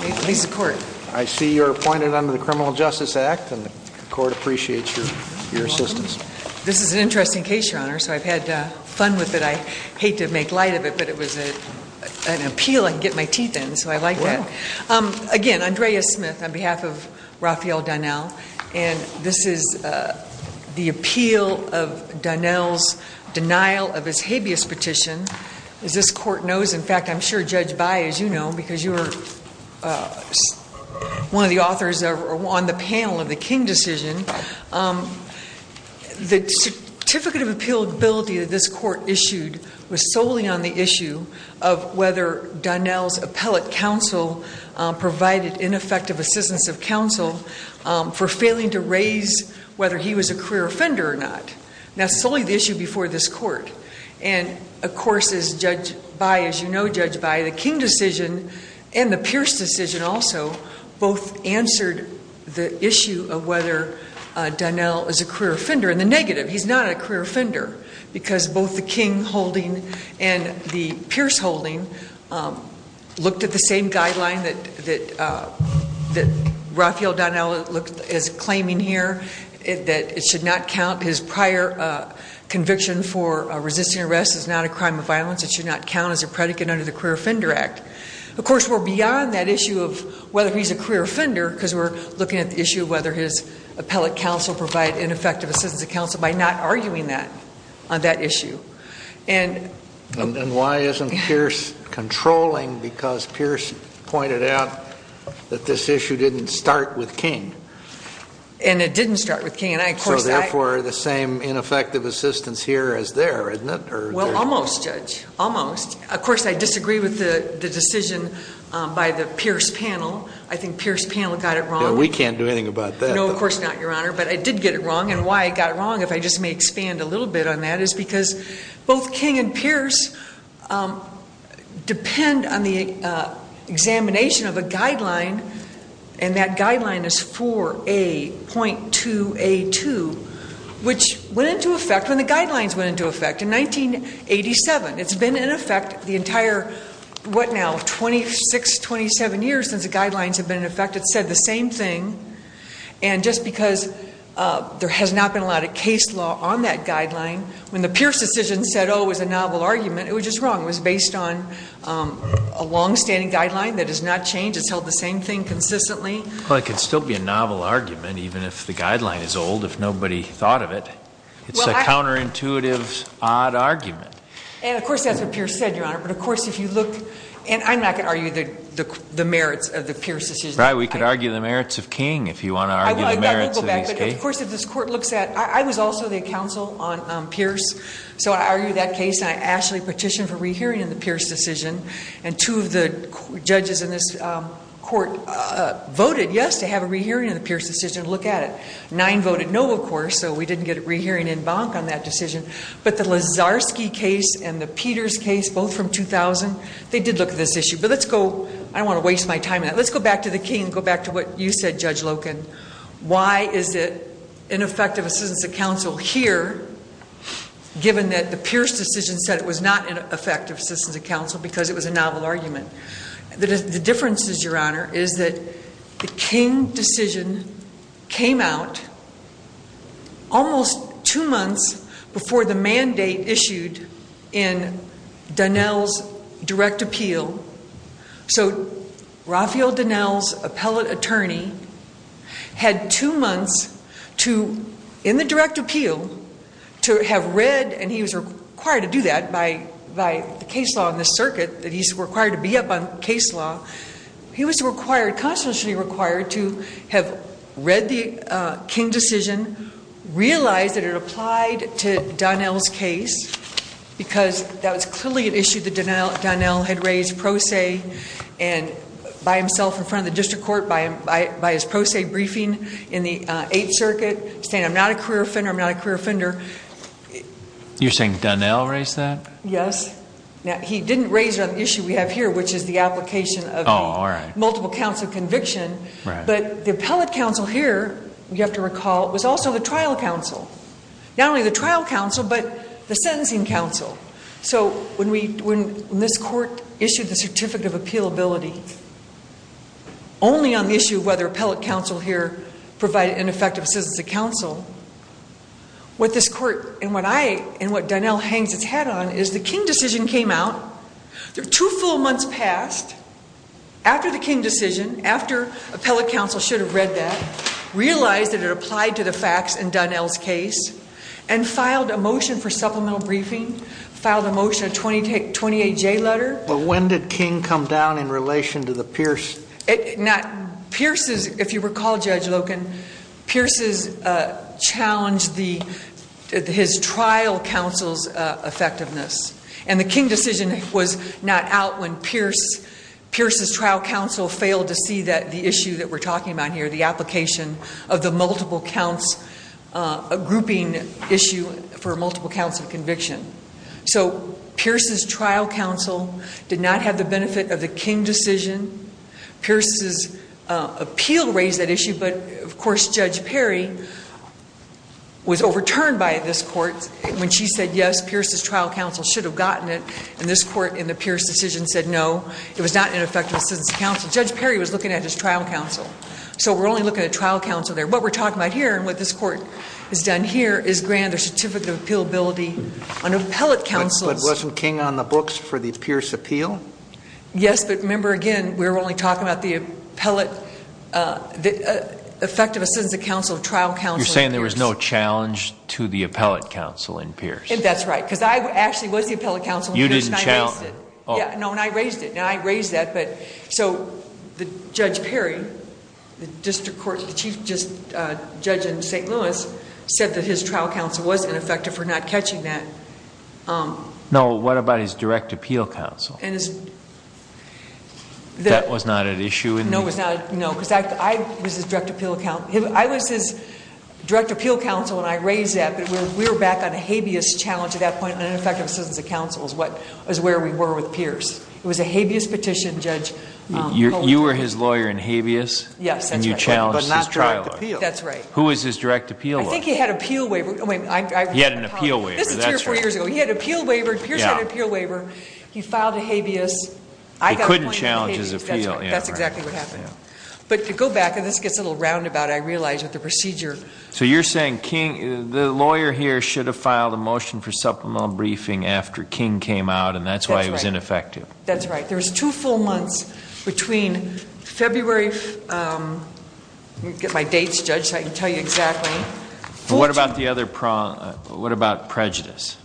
I see you are appointed under the Criminal Justice Act and the court appreciates your assistance. This is an interesting case, Your Honor, so I've had fun with it. I hate to make light of it, but it was an appeal I could get my teeth in, so I like that. Again, Andrea Smith on behalf of Rafael Donnell, and this is the appeal of Donnell's denial of his habeas petition. As this court knows, in fact, I'm sure Judge Bai, as you know, because you are one of the authors on the panel of the King decision, the certificate of appealability that this court issued was solely on the issue of whether Donnell's appellate counsel provided ineffective assistance of counsel for failing to raise whether he was a career offender or not. Now, solely the issue before this court, and of course, as Judge Bai, as you know, Judge Bai, the King decision and the Pierce decision also both answered the issue of whether Donnell is a career offender. And the negative, he's not a career offender because both the King holding and the Pierce holding looked at the same guideline that Rafael Donnell is claiming here, that it should not count his prior conviction for resisting arrest as not a crime of violence, it should not count as a predicate under the Career Offender Act. Of course, we're beyond that issue of whether he's a career offender because we're looking at the issue of whether his appellate counsel provided ineffective assistance of counsel by not arguing that on that issue. And And why isn't Pierce controlling? Because Pierce pointed out that this issue didn't start with King. And it didn't start with King. So, therefore, the same ineffective assistance here is there, isn't it? Well, almost, Judge, almost. Of course, I disagree with the decision by the Pierce panel. I think Pierce panel got it wrong. We can't do anything about that. No, of course not, Your Honor. But I did get it wrong. And why I got it wrong, if I just may expand a little bit on that, is because both King and Pierce depend on the examination of a guideline, and that guideline is 4A.2A2, which went into effect when the guidelines went into effect in 1987. It's been in effect the entire, what now, 26, 27 years since the guidelines have been in effect. It's said the same thing. And just because there has not been a lot of case law on that guideline, when the Pierce decision said, oh, it was a novel argument, it was just wrong. It was based on a long-standing guideline that has not changed. It's held the same thing consistently. Well, it could still be a novel argument, even if the guideline is old, if nobody thought of it. It's a counterintuitive, odd argument. And of course, that's what Pierce said, Your Honor. But of course, if you look, and I'm not going to argue the merits of the Pierce decision. Right, we could argue the merits of King, if you want to argue the merits of his case. But of course, if this court looks at, I was also the counsel on Pierce. So I argued that case. And I actually petitioned for re-hearing in the Pierce decision. And two of the judges in this court voted yes to have a re-hearing of the Pierce decision and look at it. Nine voted no, of course. So we didn't get a re-hearing en banc on that decision. But the Lazarski case and the Peters case, both from 2000, they did look at this issue. But let's go, I don't want to waste my time on that. Let's go back to the King and go back to what you said, Judge Loken. Why is it ineffective assistance of counsel here, given that the Pierce decision said it was not an effective assistance of counsel because it was a novel argument? The difference is, Your Honor, is that the King decision came out almost two months before the mandate issued in Donnell's direct appeal. So Raphael Donnell's appellate attorney had two months to, in the direct appeal, to have read, and he was required to do that by the case law in this circuit, that he's required to be up on case law. He was required, constitutionally required, to have read the King decision, realized that it applied to Donnell's case because that was clearly an issue that Donnell had raised pro se and by himself in front of the district court, by his pro se briefing in the 8th circuit, saying, I'm not a career offender, I'm not a career offender. You're saying Donnell raised that? Yes. He didn't raise the issue we have here, which is the application of the multiple counsel conviction. But the appellate counsel here, you have to recall, was also the trial counsel. Not only the trial counsel, but the sentencing counsel. So when this court issued the certificate of appealability only on the issue of whether appellate counsel here provided an effective assistance to counsel, what this court and what Donnell hangs its head on is the King decision came out, two full months passed after the King decision, after appellate counsel should have read that, realized that it applied to the facts in Donnell's case, and filed a motion for supplemental briefing, filed a motion, a 28-J letter. But when did King come down in relation to the Pierce? If you recall, Judge Loken, Pierce challenged his trial counsel's effectiveness. And the King decision was not out when Pierce's trial counsel failed to see that the issue that we're talking about here, the application of the multiple counts, a grouping issue for multiple counts of conviction. So Pierce's trial counsel did not have the benefit of the King decision. Pierce's appeal raised that issue, but of course, Judge Perry was overturned by this court when she said, yes, Pierce's trial counsel should have gotten it, and this court in the Pierce decision said, no, it was not an effective assistance to counsel. Judge Perry was looking at his trial counsel. So we're only looking at trial counsel there. What we're talking about here and what this court has done here is grant a certificate of appealability on appellate counsel's... But wasn't King on the books for the Pierce appeal? Yes, but remember, again, we're only talking about the appellate... effective assistance of counsel, trial counsel... You're saying there was no challenge to the appellate counsel in Pierce? That's right. Because I actually was the appellate counsel... You didn't challenge? Yeah. No, and I raised it. And I raised that, but... So Judge Perry, the chief judge in St. Louis, said that his trial counsel was ineffective for not catching that. No, what about his direct appeal counsel? That was not an issue in... No, it was not. No, because I was his direct appeal counsel, and I raised that, but we were back on a habeas challenge at that point on ineffective assistance of counsel is where we were with Pierce. It was a habeas petition, Judge... You were his lawyer in habeas? Yes, that's right. And you challenged his trial lawyer? But not direct appeal. That's right. Who was his direct appeal lawyer? I think he had an appeal waiver. He had an appeal waiver. That's right. This is two or four years ago. He had an appeal waiver. Pierce had an appeal waiver. He filed a habeas. I got a point on habeas. He couldn't challenge his appeal. That's right. That's exactly what happened. But to go back, and this gets a little roundabout, I realize that the procedure... So you're saying the lawyer here should have filed a motion for supplemental briefing after That's right. There's two full months between February... Let me get my dates, Judge, so I can tell you exactly. What about the other... What about prejudice?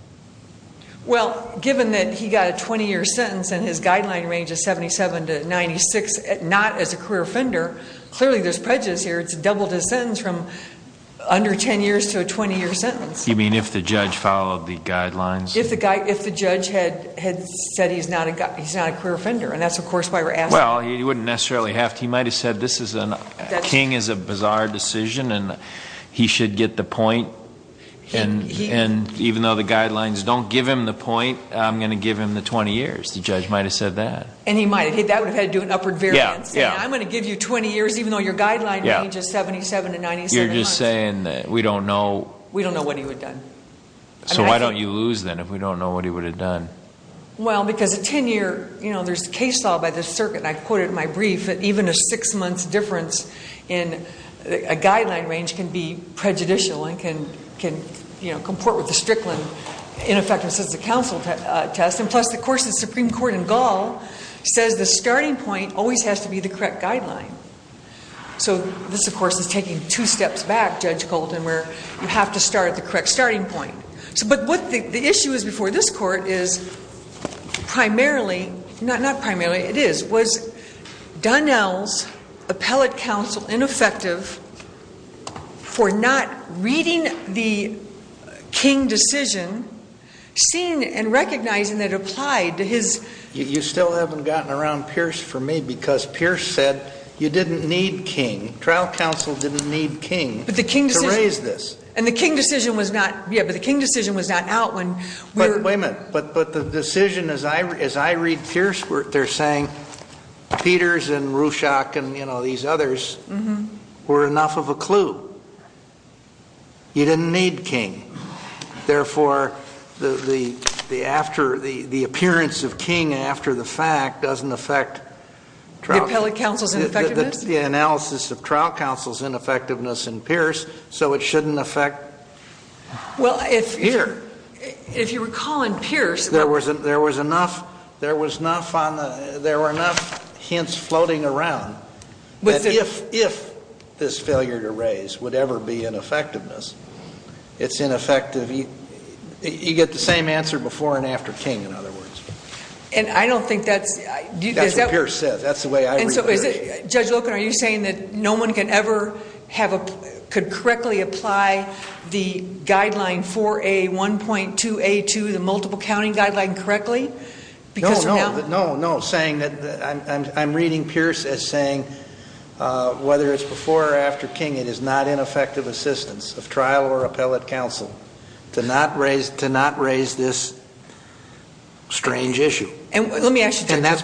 Well, given that he got a 20-year sentence and his guideline range is 77 to 96, not as a career offender, clearly there's prejudice here. It's doubled his sentence from under 10 years to a 20-year sentence. You mean if the judge followed the guidelines? If the judge had said he's not a career offender, and that's of course why we're asking... Well, he wouldn't necessarily have to. He might have said this is a... King is a bizarre decision, and he should get the point, and even though the guidelines don't give him the point, I'm going to give him the 20 years. The judge might have said that. And he might have. That would have had to do with upward variance. Yeah. Yeah. I'm going to give you 20 years even though your guideline range is 77 to 97 months. You're just saying that we don't know... We don't know what he would have done. So why don't you lose then if we don't know what he would have done? Well, because a 10-year, you know, there's a case solved by the circuit, and I've quoted in my brief that even a six-month difference in a guideline range can be prejudicial and can comport with the Strickland Ineffective Assisted Counsel test, and plus the course of the Supreme Court in Gall says the starting point always has to be the correct guideline. So this, of course, is taking two steps back, Judge Colton, where you have to start at the correct starting point. But what the issue is before this Court is primarily, not primarily, it is, was Dunnell's appellate counsel ineffective for not reading the King decision, seeing and recognizing that it applied to his... You still haven't gotten around Pierce for me because Pierce said you didn't need King. Trial counsel didn't need King to raise this. And the King decision was not, yeah, but the King decision was not out when we were... But wait a minute. But the decision, as I read Pierce, they're saying Peters and Ruchak and, you know, these others were enough of a clue. You didn't need King. Therefore, the appearance of King after the fact doesn't affect... The appellate counsel's ineffectiveness? The analysis of trial counsel's ineffectiveness in Pierce, so it shouldn't affect here. If you recall in Pierce... There was enough on the... There were enough hints floating around that if this failure to raise would ever be ineffectiveness, it's ineffective. You get the same answer before and after King, in other words. And I don't think that's... That's the way I read it. So is it... Judge Loken, are you saying that no one can ever have a... could correctly apply the guideline 4A1.2A2, the multiple counting guideline, correctly? No, no. Because they're not... No, no. Saying that... I'm reading Pierce as saying whether it's before or after King, it is not ineffective assistance of trial or appellate counsel to not raise this strange issue. And let me ask you... So does...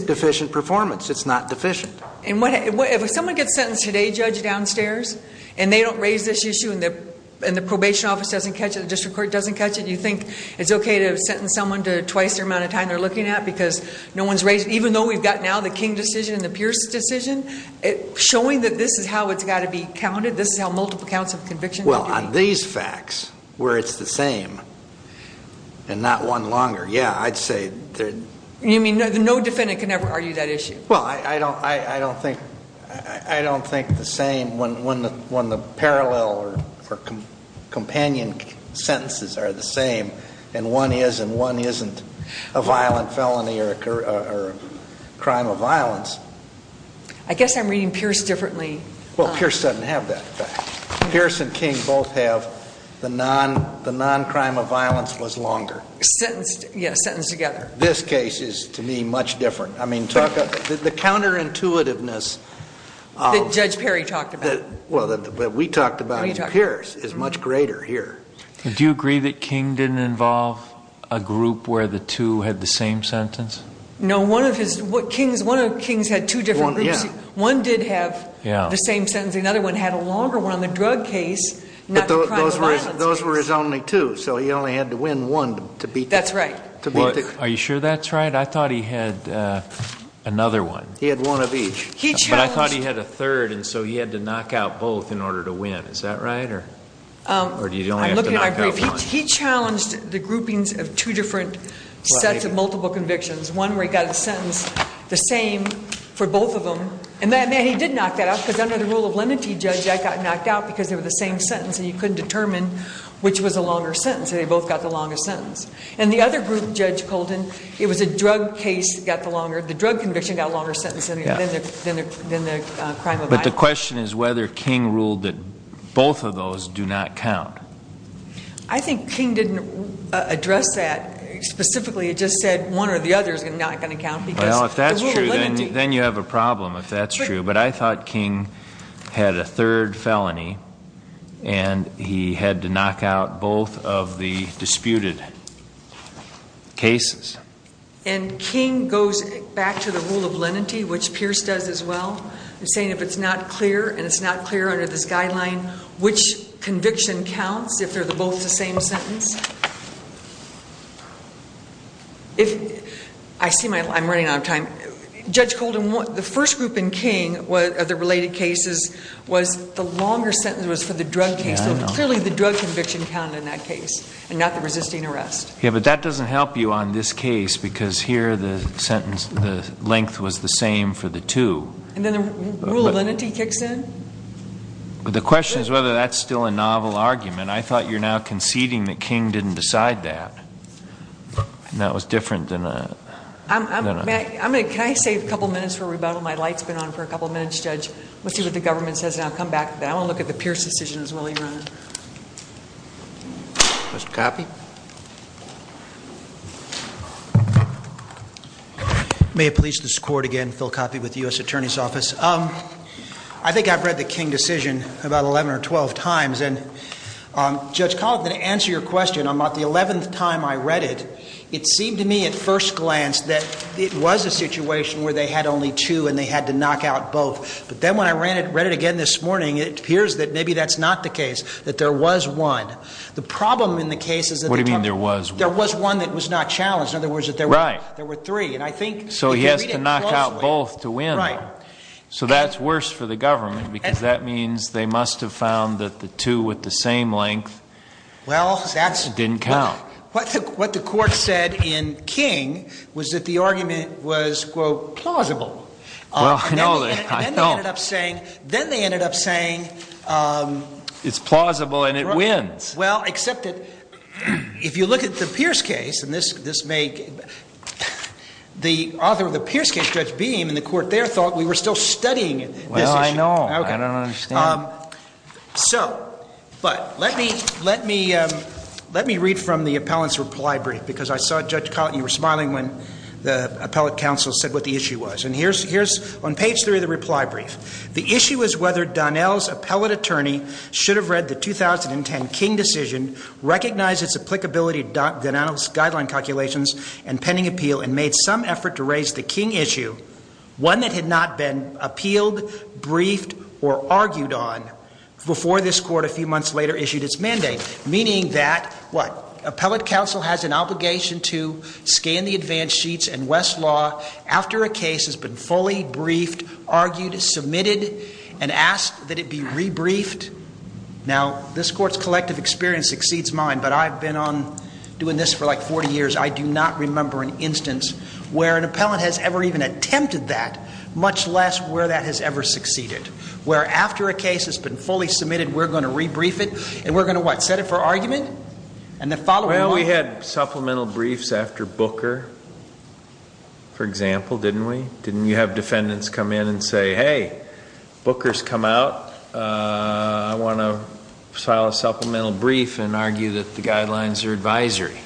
Deficient performance. It's not deficient. And what... If someone gets sentenced today, Judge, downstairs, and they don't raise this issue, and the probation office doesn't catch it, the district court doesn't catch it, you think it's okay to sentence someone to twice the amount of time they're looking at because no one's raised... Even though we've got now the King decision and the Pierce decision, showing that this is how it's got to be counted, this is how multiple counts of conviction... Well, on these facts, where it's the same and not one longer, yeah, I'd say... You mean no defendant can ever argue that issue? Well, I don't think the same when the parallel or companion sentences are the same and one is and one isn't a violent felony or a crime of violence. I guess I'm reading Pierce differently. Well, Pierce doesn't have that fact. Pierce and King both have the non-crime of violence was longer. Sentenced, yeah, sentenced together. This case is, to me, much different. I mean, the counterintuitiveness... That Judge Perry talked about. Well, that we talked about in Pierce is much greater here. Do you agree that King didn't involve a group where the two had the same sentence? No, one of his... King's had two different groups. One did have the same sentence. Another one had a longer one on the drug case, not the crime of violence case. But those were his only two, so he only had to win one to beat the... That's right. Are you sure that's right? I thought he had another one. He had one of each. He challenged... But I thought he had a third, and so he had to knock out both in order to win. Is that right? Or do you only have to knock out one? He challenged the groupings of two different sets of multiple convictions. One where he got a sentence the same for both of them. And he did knock that out because under the rule of limity, Judge, I got knocked out because they were the same sentence, and you couldn't determine which was a longer sentence. They both got the longest sentence. And the other group, Judge Colton, it was a drug case that got the longer... the drug conviction got a longer sentence than the crime of violence. But the question is whether King ruled that both of those do not count. I think King didn't address that specifically. He just said one or the other is not going to count because... That's true, but I thought King had a third felony, and he had to knock out both of the disputed cases. And King goes back to the rule of lenity, which Pierce does as well, saying if it's not clear and it's not clear under this guideline, which conviction counts if they're both the same sentence? I see my... I'm running out of time. Judge Colton, the first group in King, of the related cases, was the longer sentence was for the drug case. So clearly the drug conviction counted in that case and not the resisting arrest. Yeah, but that doesn't help you on this case because here the sentence... the length was the same for the two. And then the rule of lenity kicks in? The question is whether that's still a novel argument. I thought you're now conceding that King didn't decide that. And that was different than a... Can I save a couple of minutes for rebuttal? My light's been on for a couple of minutes, Judge. Let's see what the government says, and I'll come back to that. I want to look at the Pierce decision as well. Mr. Coffey? May it please this Court again, Phil Coffey with the U.S. Attorney's Office. I think I've read the King decision about 11 or 12 times, and Judge Colton, to answer your question, on about the 11th time I read it, it seemed to me at first glance that it was a situation where they had only two and they had to knock out both. But then when I read it again this morning, it appears that maybe that's not the case, that there was one. The problem in the case is... What do you mean there was one? There was one that was not challenged. In other words, there were three. And I think if you read it closely... So he has to knock out both to win. Right. So that's worse for the government because that means they must have found that the two with the same length didn't count. What the Court said in King was that the argument was, quote, plausible. Well, I know. Then they ended up saying... It's plausible and it wins. Well, except that if you look at the Pierce case, and this may... The author of the Pierce case, Judge Beam, and the Court there thought we were still studying this issue. Well, I know. I don't understand. So... But let me read from the appellant's reply brief because I saw Judge Cotton, you were smiling when the appellant counsel said what the issue was. And here's... On page three of the reply brief, The issue is whether Donnell's appellate attorney should have read the 2010 King decision, recognized its applicability to Donnell's guideline calculations and pending appeal, and made some effort to raise the King issue, one that had not been appealed, briefed, or argued on, before this Court a few months later issued its mandate. Meaning that... What? Appellate counsel has an obligation to scan the advance sheets and Westlaw, after a case has been fully briefed, argued, submitted, and asked that it be re-briefed. Now, this Court's collective experience exceeds mine, but I've been on doing this for like 40 years. I do not remember an instance where an appellant has ever even attempted that, much less where that has ever succeeded. Where after a case has been fully submitted, we're going to re-brief it, and we're going to what? Set it for argument? And the following month... For example, didn't we? Didn't you have defendants come in and say, hey, Booker's come out. I want to file a supplemental brief and argue that the guidelines are advisory.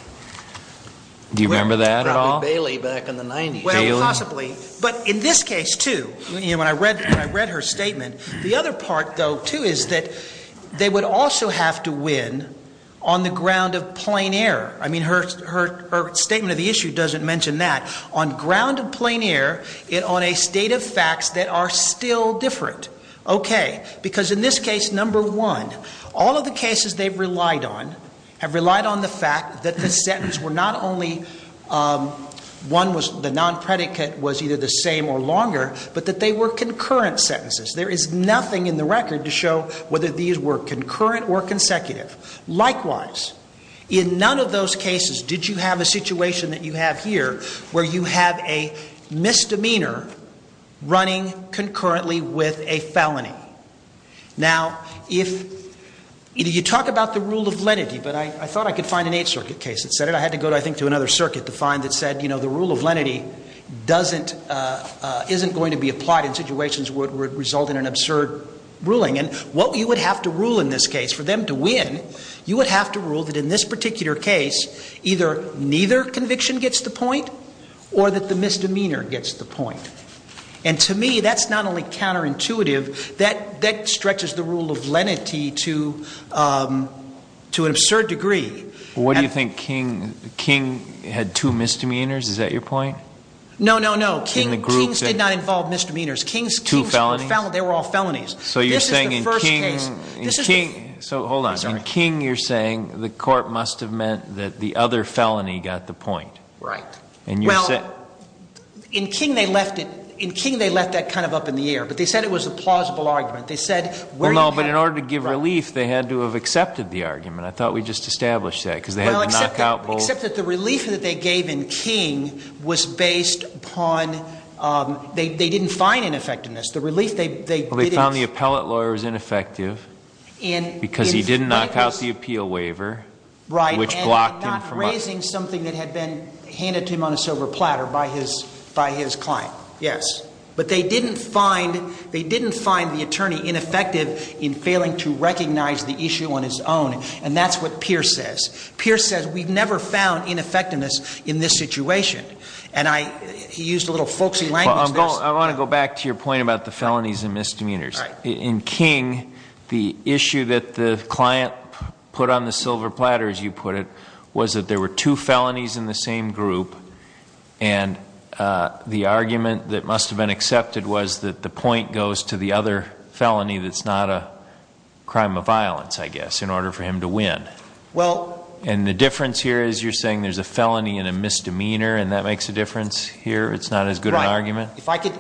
Do you remember that at all? Probably Bailey back in the 90s. Well, possibly. But in this case, too, when I read her statement, the other part, though, too, is that they would also have to win on the ground of plain error. I mean, her statement of the issue doesn't mention that. On ground of plain error and on a state of facts that are still different. Okay. Because in this case, number one, all of the cases they've relied on have relied on the fact that the sentence were not only one was... The non-predicate was either the same or longer, but that they were concurrent sentences. There is nothing in the record to show whether these were concurrent or consecutive. Likewise, in none of those cases did you have a situation that you have here, where you have a misdemeanor running concurrently with a felony. Now, if... You talk about the rule of lenity, but I thought I could find an Eighth Circuit case that said it. I had to go, I think, to another circuit to find that said, you know, the rule of lenity doesn't... isn't going to be applied in situations where it would result in an absurd ruling. And what you would have to rule in this case, for them to win, you would have to rule that in this particular case, either neither conviction gets the point or that the misdemeanor gets the point. And to me, that's not only counterintuitive, that stretches the rule of lenity to an absurd degree. What do you think? King had two misdemeanors? Is that your point? No, no, no. Kings did not involve misdemeanors. Two felonies? They were all felonies. So you're saying in King... This is the first case... So hold on. I'm sorry. In King, you're saying the court must have meant that the other felony got the point. Right. And you said... Well, in King they left it, in King they left that kind of up in the air. But they said it was a plausible argument. They said where you had... Well, no, but in order to give relief, they had to have accepted the argument. I thought we just established that, because they had to knock out both... Well, except that the relief that they gave in King was based upon, they didn't find ineffectiveness. The relief they... Well, they found the appellate lawyer was ineffective... In... Because he didn't knock out the appeal waiver... Right.... which blocked him from... And not raising something that had been handed to him on a silver platter by his client. Yes. But they didn't find, they didn't find the attorney ineffective in failing to recognize the issue on his own. And that's what Pierce says. Pierce says, we've never found ineffectiveness in this situation. And I, he used a little folksy language there. I want to go back to your point about the felonies and misdemeanors. Right. In King, the issue that the client put on the silver platter, as you put it, was that there were two felonies in the same group. And the argument that must have been accepted was that the point goes to the other felony that's not a crime of violence, I guess, in order for him to win. Well... And the difference here is you're saying there's a felony and a misdemeanor, and that makes a difference here? It's not as good an argument? Right. If I could,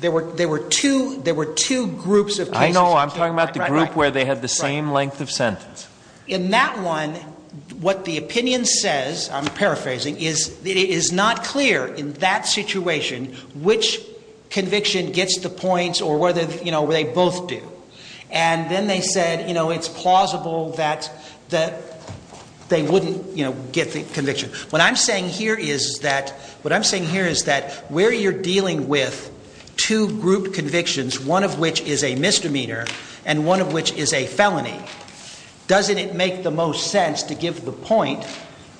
there were two, there were two groups of cases. I know. I'm talking about the group where they had the same length of sentence. In that one, what the opinion says, I'm paraphrasing, is it is not clear in that situation which conviction gets the points or whether, you know, they both do. And then they said, you know, it's plausible that they wouldn't, you know, get the conviction. What I'm saying here is that where you're dealing with two group convictions, one of which is a misdemeanor and one of which is a felony, doesn't it make the most sense to give the point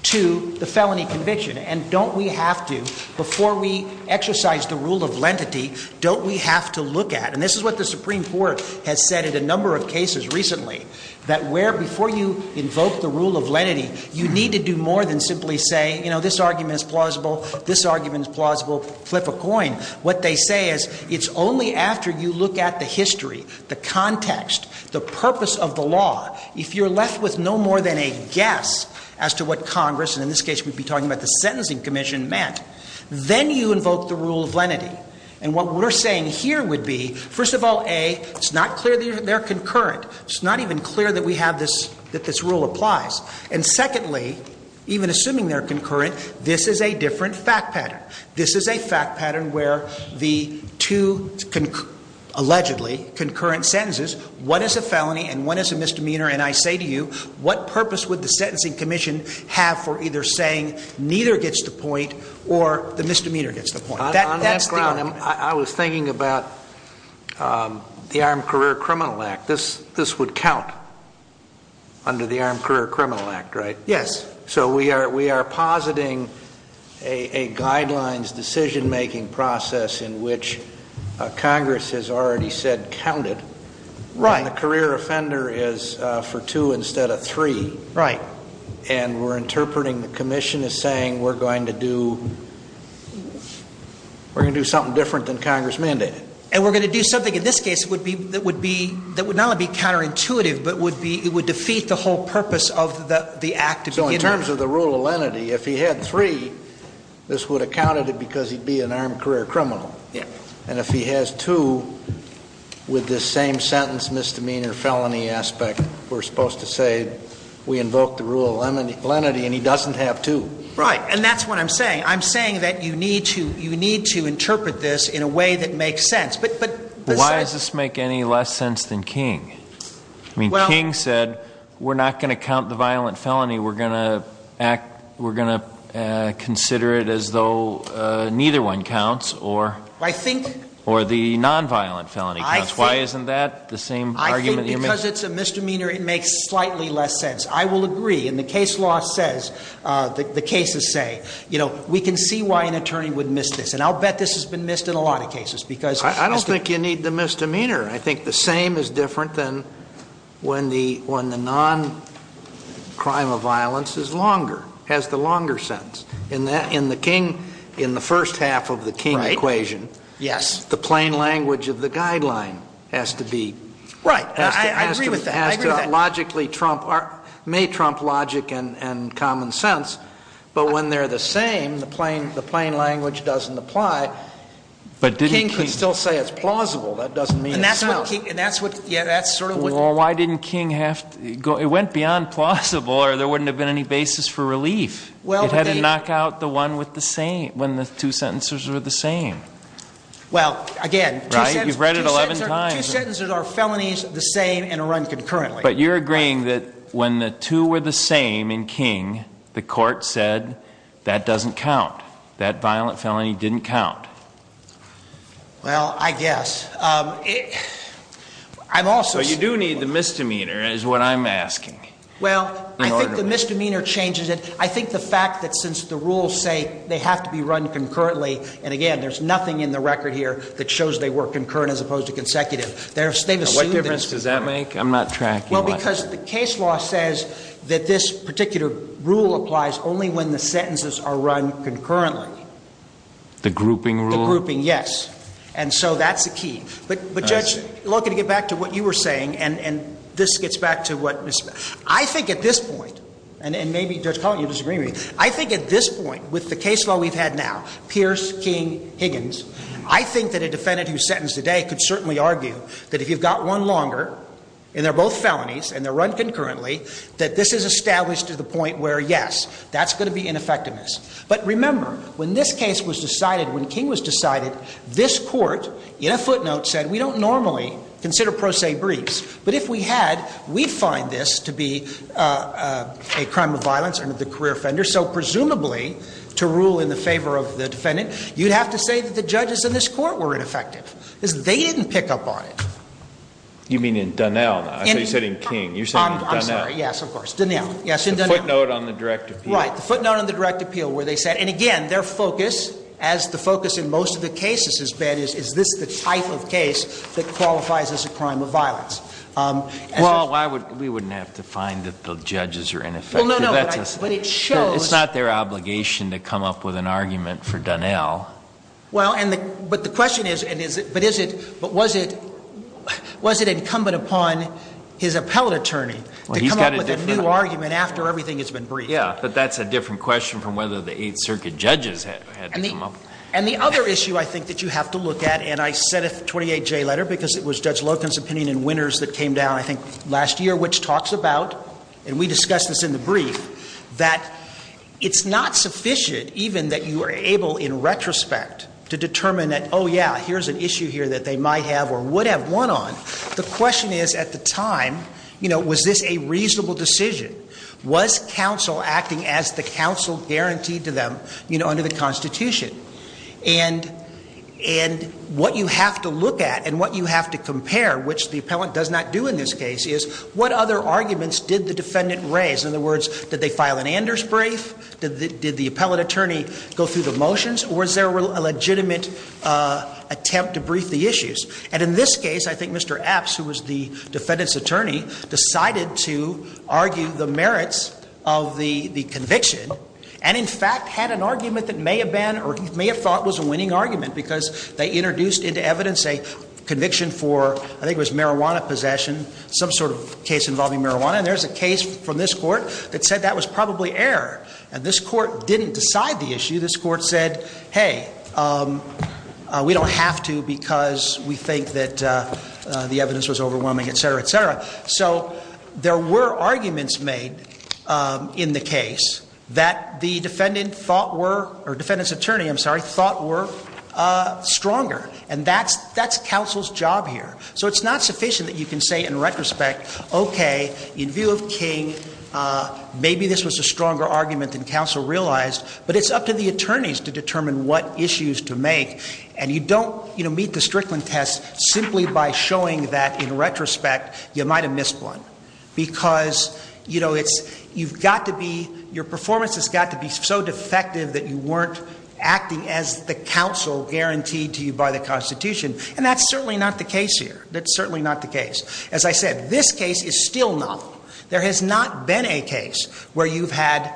to the felony conviction? And don't we have to, before we exercise the rule of lenity, don't we have to look at, and this is what the Supreme Court has said in a number of cases recently, that where before you invoke the rule of lenity, you need to do more than simply say, you know, this argument is plausible, this argument is plausible, flip a coin. What they say is it's only after you look at the history, the context, the purpose of the law, if you're left with no more than a guess as to what Congress, and in this case we'd be talking about the Sentencing Commission, meant, then you invoke the rule of lenity. And what we're saying here would be, first of all, A, it's not clear that they're concurrent. It's not even clear that we have this, that this rule applies. And secondly, even assuming they're concurrent, this is a different fact pattern. This is a fact pattern where the two allegedly concurrent sentences, one is a felony and one is a misdemeanor, and I say to you, what purpose would the Sentencing Commission have for either saying neither gets the point or the misdemeanor gets the point? On that ground, I was thinking about the Armed Career Criminal Act. This would count under the Armed Career Criminal Act, right? Yes. So we are positing a guidelines decision-making process in which Congress has already said counted. Right. And the career offender is for two instead of three. Right. And we're interpreting the commission as saying we're going to do something different than Congress mandated. And we're going to do something in this case that would not only be counterintuitive, but it would defeat the whole purpose of the act to begin with. So in terms of the rule of lenity, if he had three, this would have counted it because he'd be an armed career criminal. Yes. And if he has two, with the same sentence misdemeanor felony aspect, we're supposed to say we invoke the rule of lenity and he doesn't have two. Right. And that's what I'm saying. I'm saying that you need to interpret this in a way that makes sense. Why does this make any less sense than King? I mean, King said we're not going to count the violent felony. We're going to consider it as though neither one counts. Or the nonviolent felony counts. Why isn't that the same argument? I think because it's a misdemeanor, it makes slightly less sense. I will agree. And the case law says, the cases say, you know, we can see why an attorney would miss this. And I'll bet this has been missed in a lot of cases. I don't think you need the misdemeanor. I think the same is different than when the non-crime of violence is longer, has the longer sentence. In the King, in the first half of the King equation. Right. Yes. The plain language of the guideline has to be. Right. I agree with that. Has to logically trump, may trump logic and common sense. But when they're the same, the plain language doesn't apply. But didn't King. King could still say it's plausible. That doesn't mean it's sound. And that's what, yeah, that's sort of what. Well, why didn't King have to, it went beyond plausible or there wouldn't have been any basis for relief. It had to knock out the one with the same, when the two sentences were the same. Well, again. Right. You've read it 11 times. Two sentences are felonies the same and are run concurrently. But you're agreeing that when the two were the same in King, the court said that doesn't count. That violent felony didn't count. Well, I guess. I'm also. But you do need the misdemeanor is what I'm asking. Well, I think the misdemeanor changes it. I think the fact that since the rules say they have to be run concurrently. And, again, there's nothing in the record here that shows they were concurrent as opposed to consecutive. What difference does that make? I'm not tracking. Well, because the case law says that this particular rule applies only when the sentences are run concurrently. The grouping rule? The grouping, yes. And so that's the key. But, Judge, looking to get back to what you were saying and this gets back to what. I think at this point. And maybe, Judge Collin, you're disagreeing with me. I think at this point with the case law we've had now, Pierce, King, Higgins. I think that a defendant who's sentenced today could certainly argue that if you've got one longer and they're both felonies and they're run concurrently. That this is established to the point where, yes, that's going to be ineffectiveness. But remember, when this case was decided, when King was decided, this court in a footnote said we don't normally consider pro se briefs. But if we had, we find this to be a crime of violence under the career offender. So, presumably, to rule in the favor of the defendant, you'd have to say that the judges in this court were ineffective. Because they didn't pick up on it. You mean in Donnell? I thought you said in King. You're saying Donnell. I'm sorry. Yes, of course. Donnell. Yes, in Donnell. The footnote on the direct appeal. Right. The footnote on the direct appeal where they said, and again, their focus, as the focus in most of the cases has been, is this the type of case that qualifies as a crime of violence? Well, we wouldn't have to find that the judges are ineffective. Well, no, no. But it shows. It's not their obligation to come up with an argument for Donnell. Well, but the question is, but was it incumbent upon his appellate attorney to come up with a new argument after everything has been briefed? Yes, but that's a different question from whether the Eighth Circuit judges had to come up with it. And the other issue I think that you have to look at, and I sent a 28-J letter because it was Judge Loken's opinion and winners that came down, I think, last year, which talks about, and we discussed this in the brief, that it's not sufficient even that you are able in retrospect to determine that, oh, yeah, here's an issue here that they might have or would have won on. The question is, at the time, you know, was this a reasonable decision? Was counsel acting as the counsel guaranteed to them, you know, under the Constitution? And what you have to look at and what you have to compare, which the appellant does not do in this case, is what other arguments did the defendant raise? In other words, did they file an Anders brief? Did the appellate attorney go through the motions? Or is there a legitimate attempt to brief the issues? And in this case, I think Mr. Epps, who was the defendant's attorney, decided to argue the merits of the conviction and, in fact, had an argument that may have been or he may have thought was a winning argument because they introduced into evidence a conviction for, I think it was marijuana possession, some sort of case involving marijuana. And there's a case from this Court that said that was probably error. And this Court didn't decide the issue. This Court said, hey, we don't have to because we think that the evidence was overwhelming, et cetera, et cetera. So there were arguments made in the case that the defendant thought were or defendant's attorney, I'm sorry, thought were stronger. And that's counsel's job here. So it's not sufficient that you can say in retrospect, okay, in view of King, maybe this was a stronger argument than counsel realized. But it's up to the attorneys to determine what issues to make. And you don't meet the Strickland test simply by showing that, in retrospect, you might have missed one because, you know, it's – you've got to be – your performance has got to be so defective that you weren't acting as the counsel guaranteed to you by the Constitution. And that's certainly not the case here. That's certainly not the case. As I said, this case is still null. There has not been a case where you've had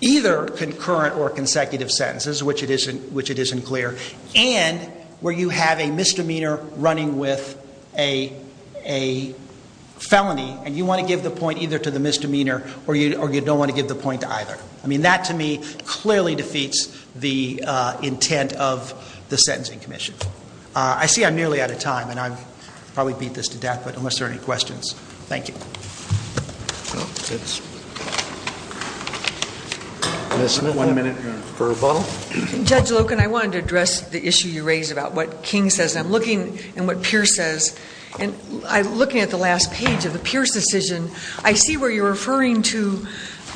either concurrent or consecutive sentences, which it isn't clear, and where you have a misdemeanor running with a felony. And you want to give the point either to the misdemeanor or you don't want to give the point to either. I mean, that, to me, clearly defeats the intent of the Sentencing Commission. I see I'm nearly out of time, and I've probably beat this to death, but unless there are any questions, thank you. One minute for rebuttal. Judge Loken, I wanted to address the issue you raised about what King says. I'm looking at what Pierce says, and I'm looking at the last page of the Pierce decision. I see where you're referring to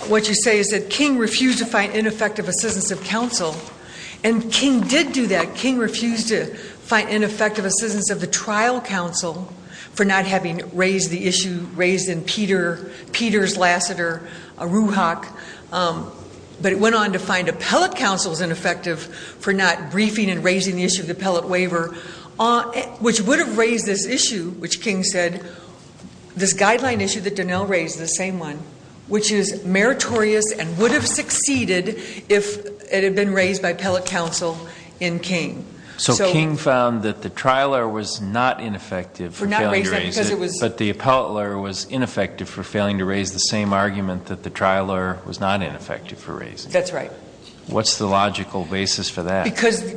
what you say is that King refused to find ineffective assistance of counsel, and King did do that. King refused to find ineffective assistance of the trial counsel for not having raised the issue raised in Peters, Lassiter, Ruhak. But it went on to find appellate counsels ineffective for not briefing and raising the issue of the appellate waiver, which would have raised this issue, which King said, this guideline issue that Donnell raised, the same one, which is meritorious and would have succeeded if it had been raised by appellate counsel in King. So King found that the trial lawyer was not ineffective for failing to raise it, but the appellate lawyer was ineffective for failing to raise the same argument that the trial lawyer was not ineffective for raising it. That's right. What's the logical basis for that? Because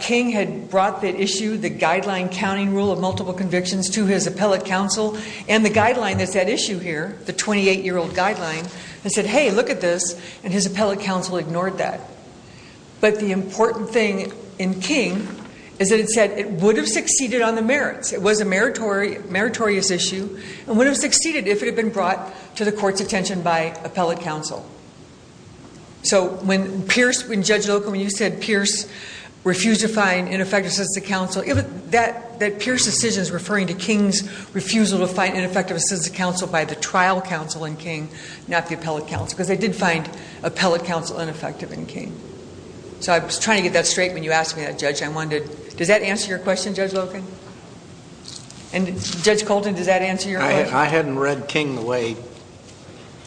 King had brought the issue, the guideline counting rule of multiple convictions to his appellate counsel, and the guideline that's at issue here, the 28-year-old guideline, and said, hey, look at this, and his appellate counsel ignored that. But the important thing in King is that it said it would have succeeded on the merits. It was a meritorious issue and would have succeeded if it had been brought to the court's attention by appellate counsel. So when Pierce, when Judge Loken, when you said Pierce refused to find ineffective assistance to counsel, that Pierce decision is referring to King's refusal to find ineffective assistance to counsel by the trial counsel in King, not the appellate counsel, because they did find appellate counsel ineffective in King. So I was trying to get that straight when you asked me that, Judge. I wondered, does that answer your question, Judge Loken? And Judge Colton, does that answer your question? I hadn't read King the way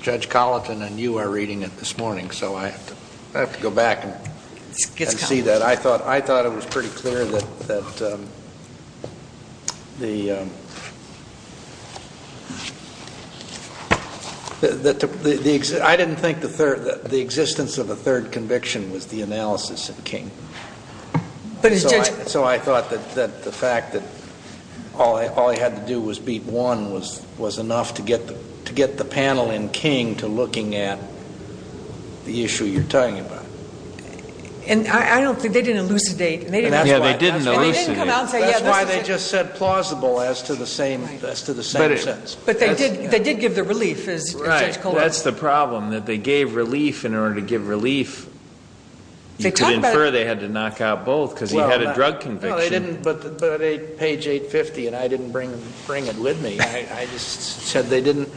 Judge Colton and you are reading it this morning, so I have to go back and see that. I thought it was pretty clear that the existence of a third conviction was the analysis in King. So I thought that the fact that all he had to do was beat one was enough to get the panel in King to looking at the issue you're talking about. And I don't think they didn't elucidate. Yeah, they didn't elucidate. That's why they just said plausible as to the same sentence. But they did give the relief, Judge Colton. Right. That's the problem, that they gave relief in order to give relief. You could infer they had to knock out both because he had a drug conviction. Well, they didn't, but page 850, and I didn't bring it with me. I just said they didn't.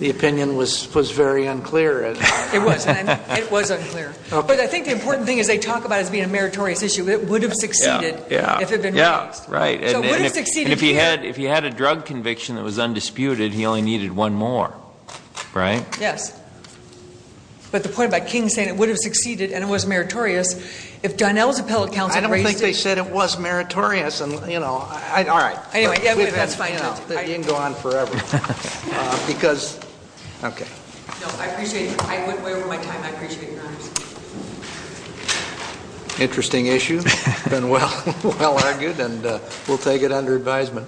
The opinion was very unclear. It was. It was unclear. But I think the important thing is they talk about it as being a meritorious issue. It would have succeeded if it had been released. Yeah, right. And if he had a drug conviction that was undisputed, he only needed one more. Right? Yes. But the point about King saying it would have succeeded and it was meritorious, if Donnell's appellate counsel had raised it. I don't think they said it was meritorious and, you know, all right. Anyway, that's fine, Judge. You can go on forever. Because, okay. No, I appreciate it. I went way over my time. I appreciate your honesty. Interesting issue. Well argued, and we'll take it under advisement.